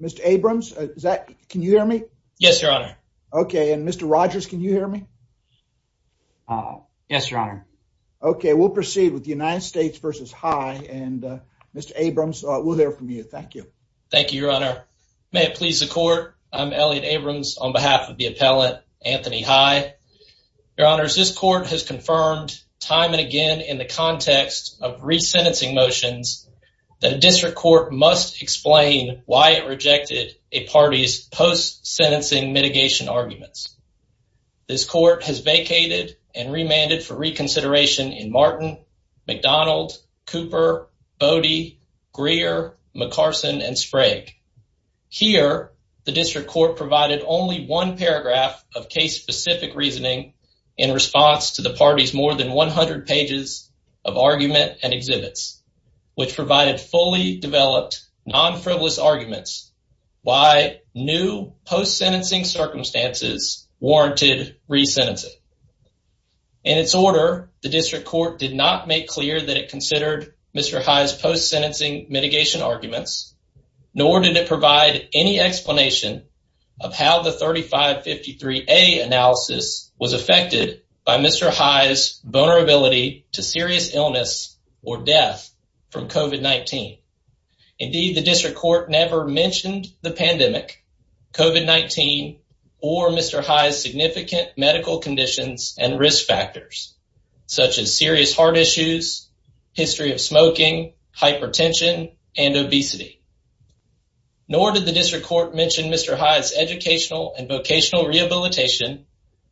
Mr. Abrams, can you hear me? Yes, Your Honor. Okay, and Mr. Rogers, can you hear me? Yes, Your Honor. Okay, we'll proceed with the United States v. High, and Mr. Abrams, we'll hear from you. Thank you. Thank you, Your Honor. May it please the court, I'm Elliot Abrams on behalf of the appellant, Anthony High. Your Honors, this court has confirmed time and again in the context of resentencing motions that a district court must explain why it rejected a party's post-sentencing mitigation arguments. This court has vacated and remanded for reconsideration in Martin, McDonald, Cooper, Bodie, Greer, McCarson, and Sprague. Here, the district court provided only one paragraph of case-specific reasoning in response to the party's more than 100 pages of argument and exhibits, which provided fully developed, non-frivolous arguments why new post-sentencing circumstances warranted resentencing. In its order, the district court did not make clear that it considered Mr. High's post-sentencing mitigation arguments, nor did it provide any explanation of how the 3553A analysis was affected by Mr. High's vulnerability to serious illness or death from COVID-19. Indeed, the district court never mentioned the pandemic, COVID-19, or Mr. High's significant medical conditions and risk factors, such as serious heart issues, history of smoking, hypertension, and obesity. Nor did the district court mention Mr. High's educational and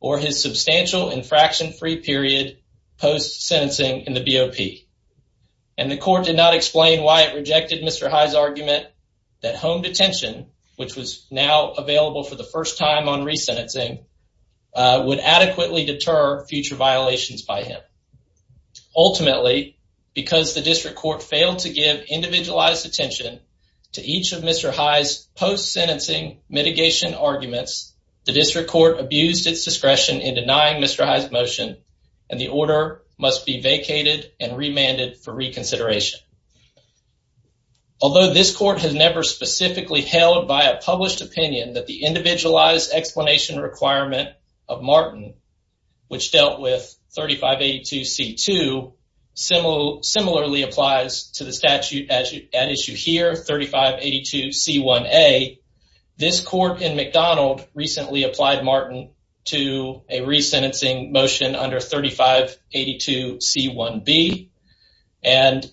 or his substantial infraction-free period post-sentencing in the BOP. And the court did not explain why it rejected Mr. High's argument that home detention, which was now available for the first time on resentencing, would adequately deter future violations by him. Ultimately, because the district court failed to give individualized attention to each of Mr. High's post-sentencing mitigation arguments, the district court abused its discretion in denying Mr. High's motion, and the order must be vacated and remanded for reconsideration. Although this court has never specifically held by a published opinion that the individualized explanation requirement of Martin, which dealt with 3582C2, similarly applies to the statute at issue here, 3582C1A, this court in McDonald recently applied Martin to a resentencing motion under 3582C1B, and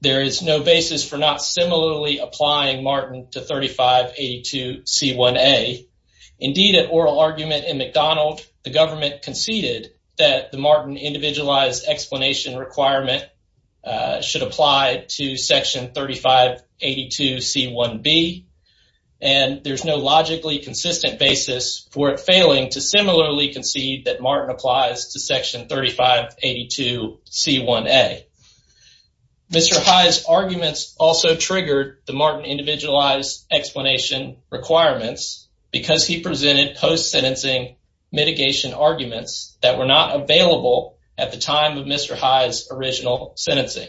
there is no basis for not similarly applying Martin to 3582C1A. Indeed, at oral argument in McDonald, the government conceded that the Martin individualized explanation requirement should apply to section 3582C1B, and there's no logically consistent basis for it failing to similarly concede that Martin applies to section 3582C1A. Mr. High's arguments also triggered the Martin individualized explanation requirements because he presented post-sentencing mitigation arguments that were not available at the time of Mr. High's original sentencing.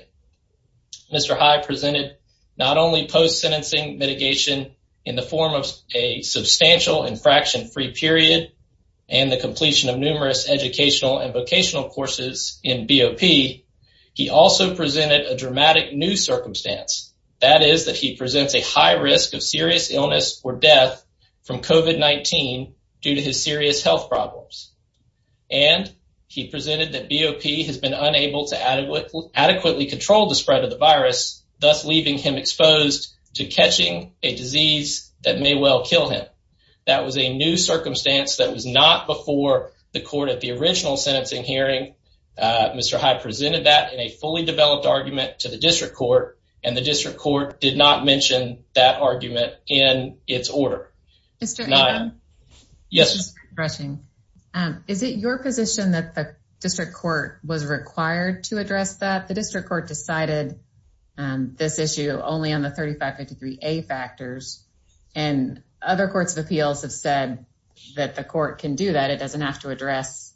Mr. High presented not only post-sentencing mitigation in the form of a substantial infraction-free period and the completion of numerous educational and vocational courses in BOP, he also presented a dramatic new circumstance, that is that he presents a high risk of serious illness or death from COVID-19 due to his serious health problems, and he presented that BOP has been unable to adequately control the spread of the virus, thus leaving him exposed to catching a disease that may well kill him. That was a new circumstance that was not before the court at the original sentencing hearing. Mr. High presented that in a fully developed argument to the district court, and the district court did not mention that argument in its order. Is it your position that the district court was required to address that? The district court decided this issue only on the 3553A factors, and other courts of appeals have said that the court can do that. It doesn't have to address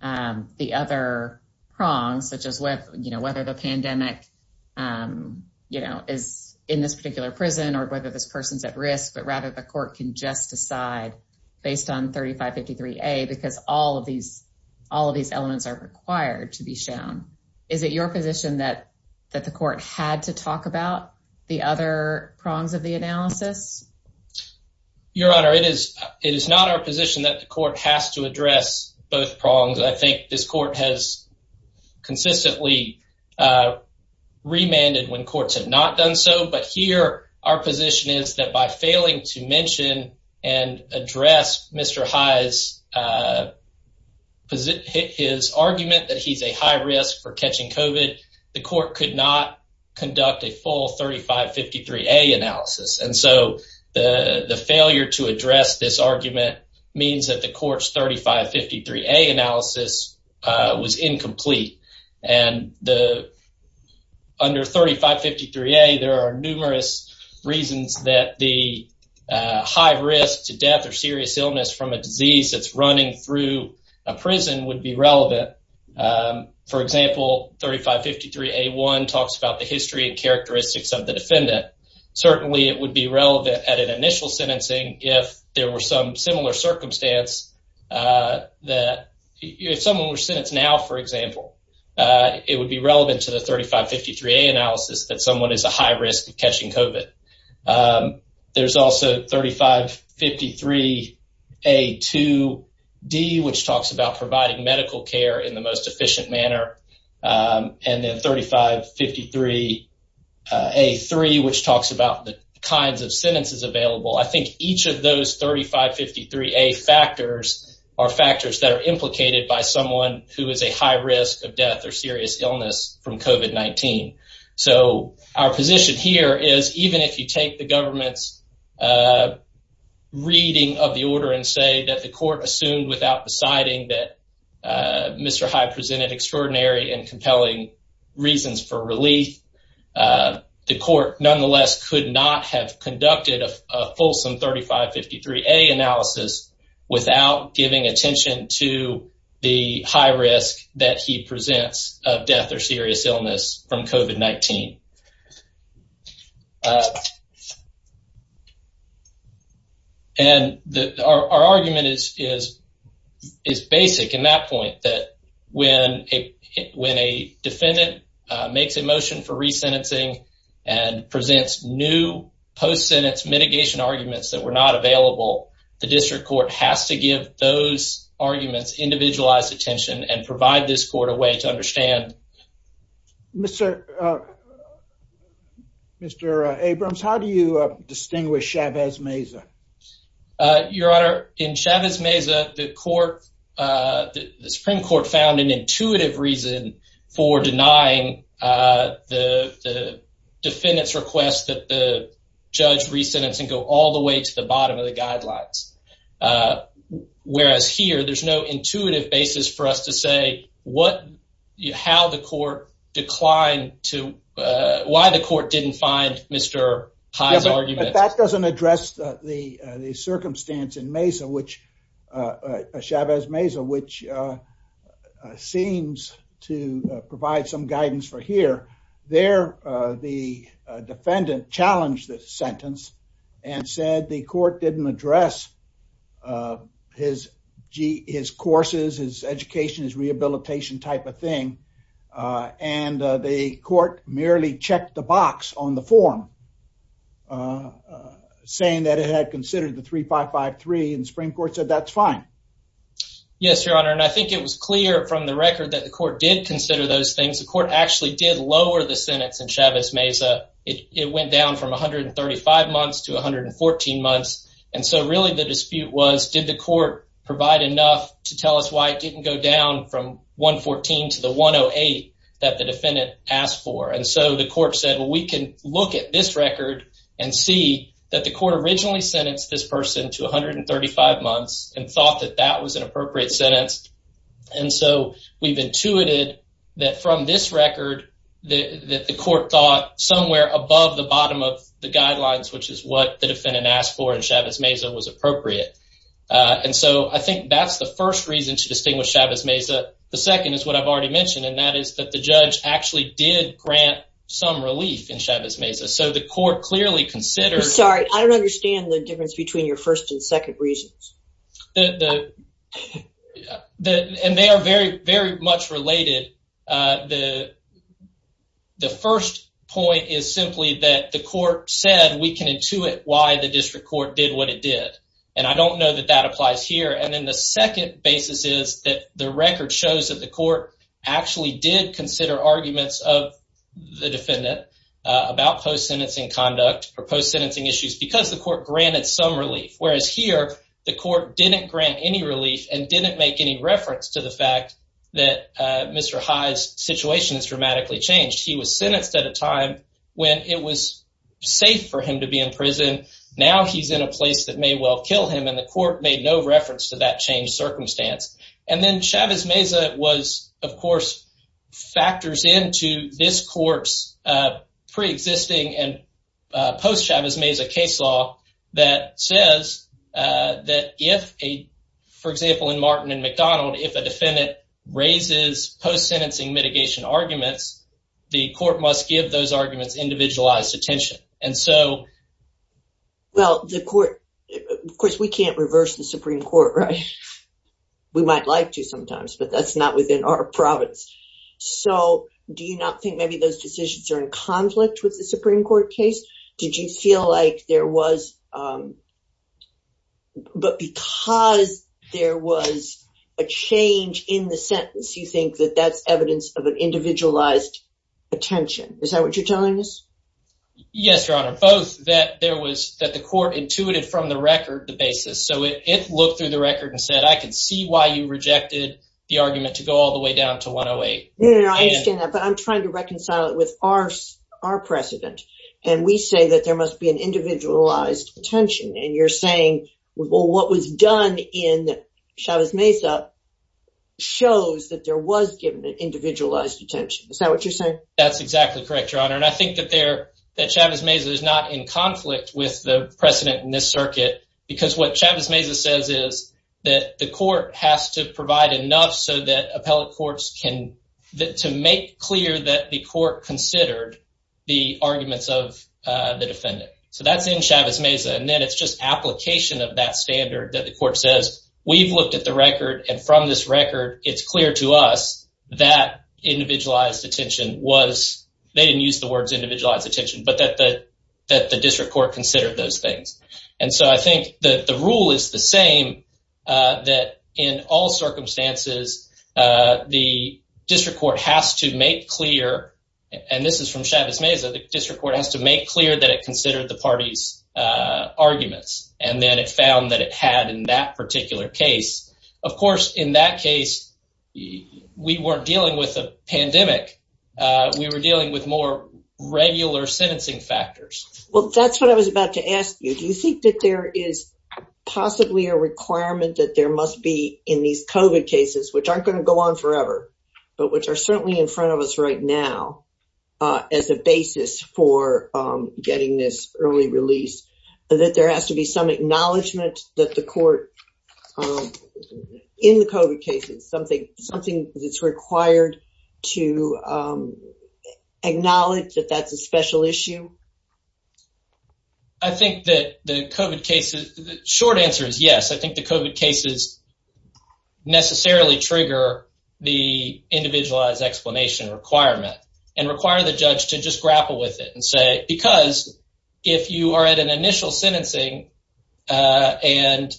the other prongs, such as whether the pandemic is in this particular prison or whether this person's at risk, but rather the court can just decide based on 3553A, because all of these elements are required to be shown. Is it your position that the court had to talk about the other prongs of the analysis? Your Honor, it is not our position that the court has to address both prongs. I think this court has remanded when courts have not done so, but here our position is that by failing to mention and address Mr. High's argument that he's a high risk for catching COVID, the court could not conduct a full 3553A analysis. And so the failure to address this argument means that the court's 3553A analysis was incomplete. And under 3553A, there are numerous reasons that the high risk to death or serious illness from a disease that's running through a prison would be relevant. For example, 3553A1 talks about the history and characteristics of the defendant. Certainly, it would be relevant at an initial sentencing if there were some similar circumstance. If someone were sentenced now, for example, it would be relevant to the 3553A analysis that someone is a high risk of catching COVID. There's also 3553A2D, which talks about providing medical care in the most efficient manner. And then 3553A3, which talks about the sentences available. I think each of those 3553A factors are factors that are implicated by someone who is a high risk of death or serious illness from COVID-19. So our position here is even if you take the government's reading of the order and say that the court assumed without deciding that Mr. High presented extraordinary and compelling reasons for relief, the court nonetheless could not have conducted a fulsome 3553A analysis without giving attention to the high risk that he presents of death or serious illness from COVID-19. And our argument is basic in that point that when a defendant makes a motion for resentencing and presents new post-sentence mitigation arguments that were not available, the district court has to give those arguments individualized attention and provide this court a way to understand. Mr. Abrams, how do you distinguish Chavez Meza? Your Honor, in Chavez Meza, defendants request that the judge resentence and go all the way to the bottom of the guidelines. Whereas here, there's no intuitive basis for us to say how the court declined to, why the court didn't find Mr. High's argument. But that doesn't address the circumstance in Meza, which Chavez Meza, which seems to provide some guidance for here. There, the defendant challenged the sentence and said the court didn't address his courses, his education, his rehabilitation type of thing. And the court merely checked the box on the form saying that it had considered the 3553 and the Supreme Court said that's fine. Yes, Your Honor, and I think it was clear from the record that the court did consider those things. The court actually did lower the sentence in Chavez Meza. It went down from 135 months to 114 months. And so really the dispute was, did the court provide enough to tell us why it didn't go down from 114 to the 108 that the defendant asked for? And so the court said, well, we can look at this record and see that the court originally sentenced this person to 135 months and thought that that was an appropriate sentence. And so we've intuited that from this record, that the court thought somewhere above the bottom of the guidelines, which is what the defendant asked for in Chavez Meza was appropriate. And so I think that's the first reason to distinguish Chavez Meza. The second is what I've already mentioned, and that is that the judge actually did grant some relief in Chavez Meza. So the court clearly considered... Sorry, I don't understand the difference between your first and second reasons. And they are very, very much related. The first point is simply that the court said we can intuit why the district court did what it did. And I don't know that that applies here. And then the record shows that the court actually did consider arguments of the defendant about post-sentencing conduct or post-sentencing issues because the court granted some relief, whereas here the court didn't grant any relief and didn't make any reference to the fact that Mr. High's situation has dramatically changed. He was sentenced at a time when it was safe for him to be in prison. Now he's in a place that may well kill him, and the court made no reference to that circumstance. And then Chavez Meza, of course, factors into this court's pre-existing and post-Chavez Meza case law that says that if, for example, in Martin and McDonald, if a defendant raises post-sentencing mitigation arguments, the court must give those arguments individualized attention. And so... Well, the court, of course, we can't reverse the Supreme Court, right? We might like to sometimes, but that's not within our province. So do you not think maybe those decisions are in conflict with the Supreme Court case? Did you feel like there was... But because there was a change in the sentence, you think that that's evidence of an individualized attention. Is that what you're telling us? Yes, Your Honor. Both that there was... That the court intuited from the record the basis. So it looked through the record and said, I can see why you rejected the argument to go all the way down to 108. No, no, no. I understand that, but I'm trying to reconcile it with our precedent. And we say that there must be an individualized attention. And you're saying, well, what was done in Chavez Meza shows that there was given an individualized attention. Is that what you're saying? That's exactly correct, Your Honor. And I think that Chavez Meza is not in conflict with the precedent in this circuit because what Chavez Meza says is that the court has to provide enough so that appellate courts can... To make clear that the court considered the arguments of the defendant. So that's in Chavez Meza. And then it's just application of that standard that the court says, we've looked at the record and from this record, it's clear to us that individualized attention was... They didn't use the words individualized attention, but that the district court considered those things. And so I think that the rule is the same that in all circumstances, the district court has to make clear, and this is from Chavez Meza, the district court has to make clear that it considered the party's arguments. And then it we weren't dealing with a pandemic. We were dealing with more regular sentencing factors. Well, that's what I was about to ask you. Do you think that there is possibly a requirement that there must be in these COVID cases, which aren't going to go on forever, but which are certainly in front of us right now as a basis for getting this early release, that there has to be some something that's required to acknowledge that that's a special issue? I think that the COVID cases... The short answer is yes. I think the COVID cases necessarily trigger the individualized explanation requirement and require the judge to just grapple with it and say, because if you are at an initial sentencing and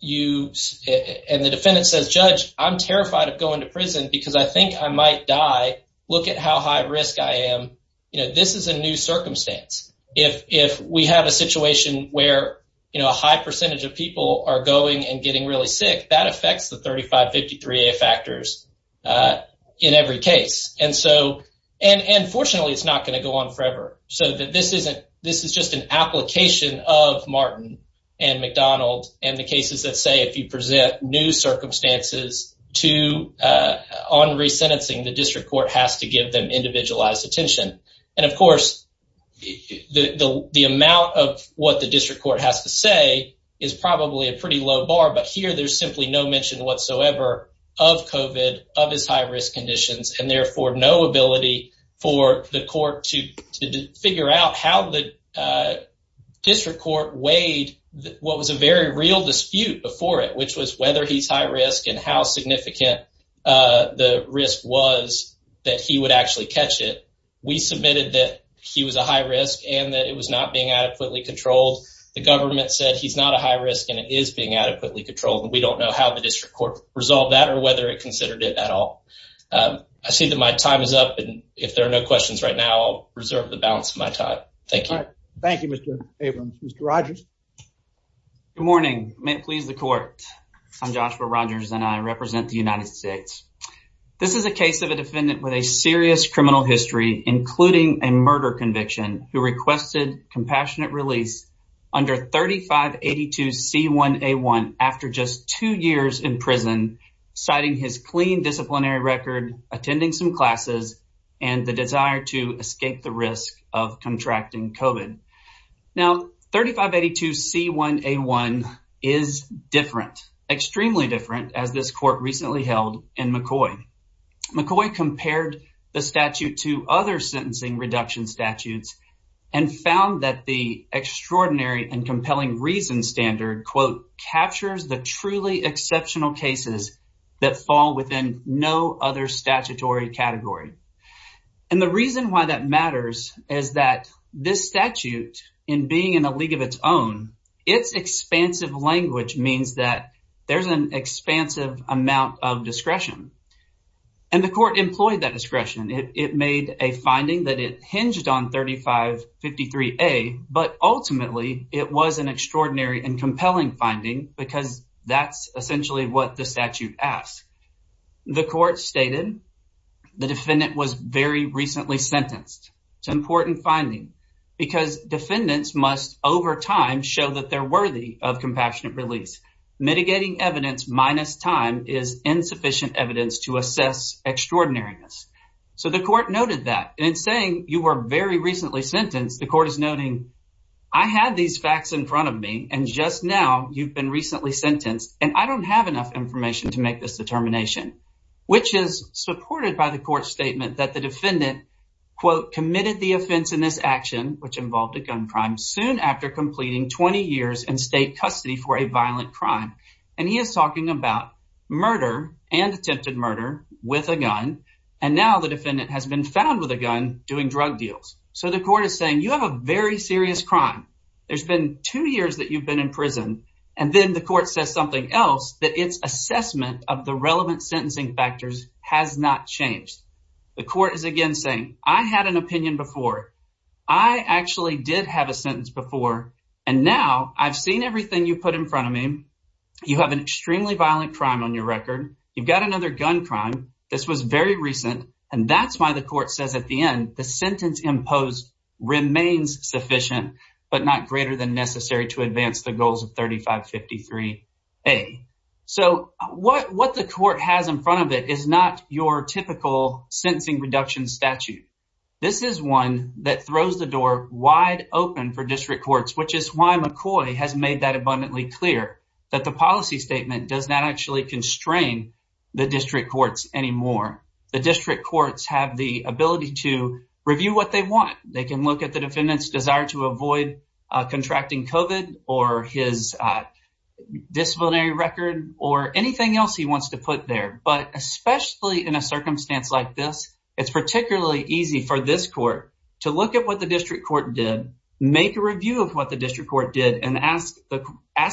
the defendant says, judge, I'm terrified of going to prison because I think I might die. Look at how high risk I am. This is a new circumstance. If we have a situation where a high percentage of people are going and getting really sick, that affects the 3553A factors in every case. And fortunately, it's not going to go on forever. So this is just an application of Martin and McDonald and the cases that say if you present new circumstances on resentencing, the district court has to give them individualized attention. And of course, the amount of what the district court has to say is probably a pretty low bar, but here there's simply no mention whatsoever of COVID, of his to figure out how the district court weighed what was a very real dispute before it, which was whether he's high risk and how significant the risk was that he would actually catch it. We submitted that he was a high risk and that it was not being adequately controlled. The government said he's not a high risk and it is being adequately controlled. And we don't know how the district court resolved that or whether it considered it at all. I see that my time is up. If there are no questions right now, I'll reserve the balance of my time. Thank you. Thank you, Mr. Abrams. Mr. Rogers. Good morning. May it please the court. I'm Joshua Rogers and I represent the United States. This is a case of a defendant with a serious criminal history, including a murder conviction who requested compassionate release under 3582C1A1 after just two years in prison, citing his clean disciplinary record, attending some classes and the desire to escape the risk of contracting COVID. Now, 3582C1A1 is different, extremely different as this court recently held in McCoy. McCoy compared the statute to other sentencing reduction statutes and found that the fall within no other statutory category. And the reason why that matters is that this statute, in being in a league of its own, its expansive language means that there's an expansive amount of discretion. And the court employed that discretion. It made a finding that it hinged on 3553A, but ultimately it was an extraordinary and compelling finding because that's essentially what the statute asks. The court stated the defendant was very recently sentenced. It's an important finding because defendants must, over time, show that they're worthy of compassionate release. Mitigating evidence minus time is insufficient evidence to assess extraordinariness. So the court noted that. In saying you were very recently sentenced, the court is noting, I had these facts in front of me and just now you've been recently sentenced and I don't have enough information to make this determination, which is supported by the court statement that the defendant, quote, committed the offense in this action, which involved a gun crime, soon after completing 20 years in state custody for a violent crime. And he is talking about murder and attempted murder with a gun. And now the defendant has been found with a gun doing drug deals. So the court is saying you have a very serious crime. There's been two years that you've been in prison. And then the court says something else that its assessment of the relevant sentencing factors has not changed. The court is again saying I had an opinion before. I actually did have a sentence before and now I've seen everything you put in front of me. You have an extremely violent crime on your record. You've got another gun crime. This was very recent and that's why the court says at the end the sentence imposed remains sufficient, but not greater than necessary to advance the goals of 3553A. So what the court has in front of it is not your typical sentencing reduction statute. This is one that throws the door wide open for district courts, which is why McCoy has made that abundantly clear that the policy statement does not actually constrain the district courts anymore. The district courts have the ability to review what they want. They can look at the defendant's desire to avoid contracting COVID or his disciplinary record or anything else he wants to put there. But especially in a circumstance like this, it's particularly easy for this court to look at what the district court did, make a review of what the district court did and ask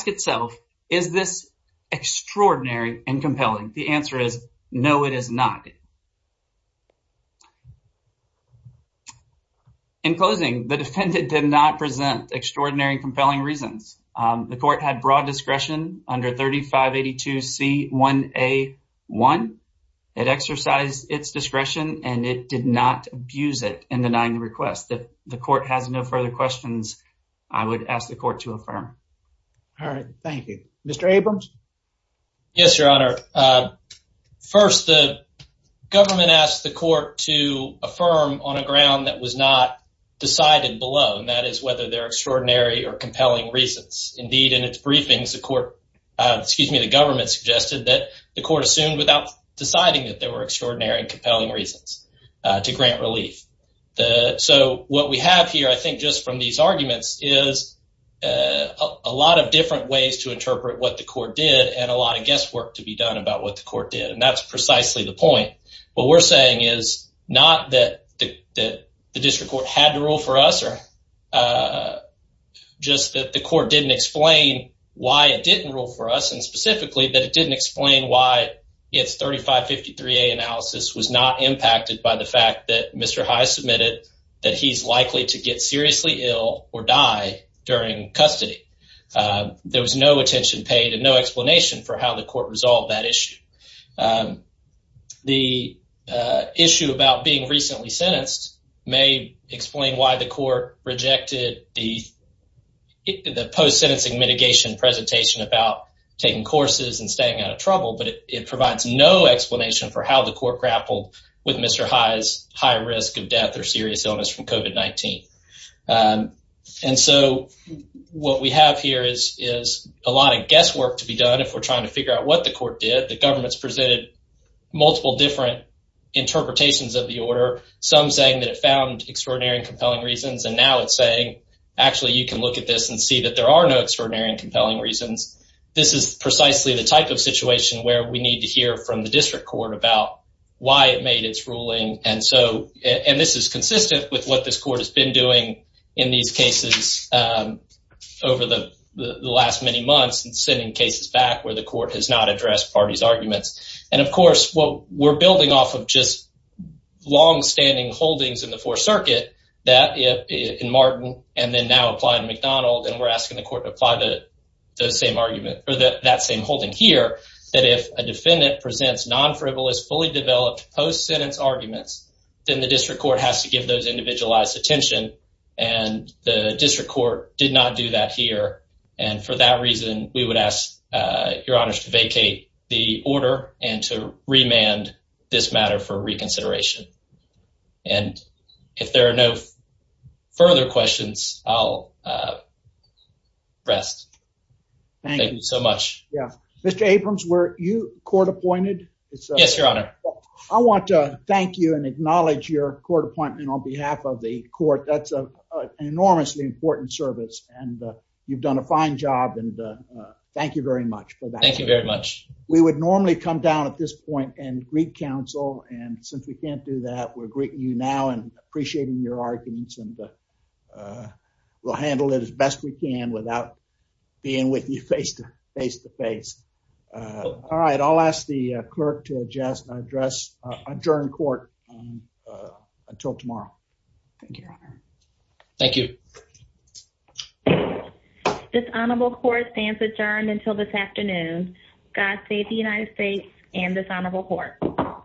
itself, is this extraordinary and compelling? The answer is no, it is not. In closing, the defendant did not present extraordinary and compelling reasons. The court had broad discretion under 3582C1A1. It exercised its discretion and it did not abuse it in denying the request. If the court has no further questions, I would ask the court to affirm. All right, thank you. Mr. Abrams? Yes, your honor. First, the government asked the court to decide and below, and that is whether they're extraordinary or compelling reasons. Indeed, in its briefings, the government suggested that the court assumed without deciding that there were extraordinary and compelling reasons to grant relief. So what we have here, I think, just from these arguments is a lot of different ways to interpret what the court did and a lot of guesswork to be done about what the court did. And that's precisely the point. What we're saying is not that the district court had to rule for us or just that the court didn't explain why it didn't rule for us and specifically that it didn't explain why it's 3553A analysis was not impacted by the fact that Mr. High submitted that he's likely to get seriously ill or die during custody. There was no attention paid and no explanation for how the court resolved that issue. The issue about being recently sentenced may explain why the court rejected the post-sentencing mitigation presentation about taking courses and staying out of trouble, but it provides no explanation for how the court grappled with Mr. High's high risk of death or serious illness from COVID-19. And so what we have here is a lot of guesswork to be done if we're trying to figure out what the court did. The government's presented multiple different interpretations of the order, some saying that it found extraordinary and compelling reasons and now it's saying, actually, you can look at this and see that there are no extraordinary and compelling reasons. This is precisely the type of situation where we need to hear from the district court about why it made its ruling. And this is consistent with what this court has been doing in these cases over the last many months and sending cases back where the court has not addressed parties' arguments. And of course, what we're building off of just long-standing holdings in the Fourth Circuit, that in Martin and then now apply in McDonald, and we're asking the court to apply the same argument or that same holding here, that if a defendant presents non-frivolous, fully developed post-sentence arguments, then the district court has to give those individualized attention. And the district court did not do that here. And for that reason, we would ask your honors to vacate the order and to remand this matter for reconsideration. And if there are no further questions, I'll rest. Thank you so much. Yeah. Mr. Abrams, were you court appointed? Yes, your honor. I want to thank you and acknowledge your court appointment on behalf of the court. That's an enormously important service, and you've done a fine job. And thank you very much for that. Thank you very much. We would normally come down at this point and greet counsel. And since we can't do that, we're greeting you now and appreciating your arguments. And we'll handle it as best we can without being with you face to face to face. All right. I'll ask the clerk to address, adjourn court until tomorrow. Thank you, your honor. Thank you. Dishonorable court stands adjourned until this afternoon. God save the United States and dishonorable court.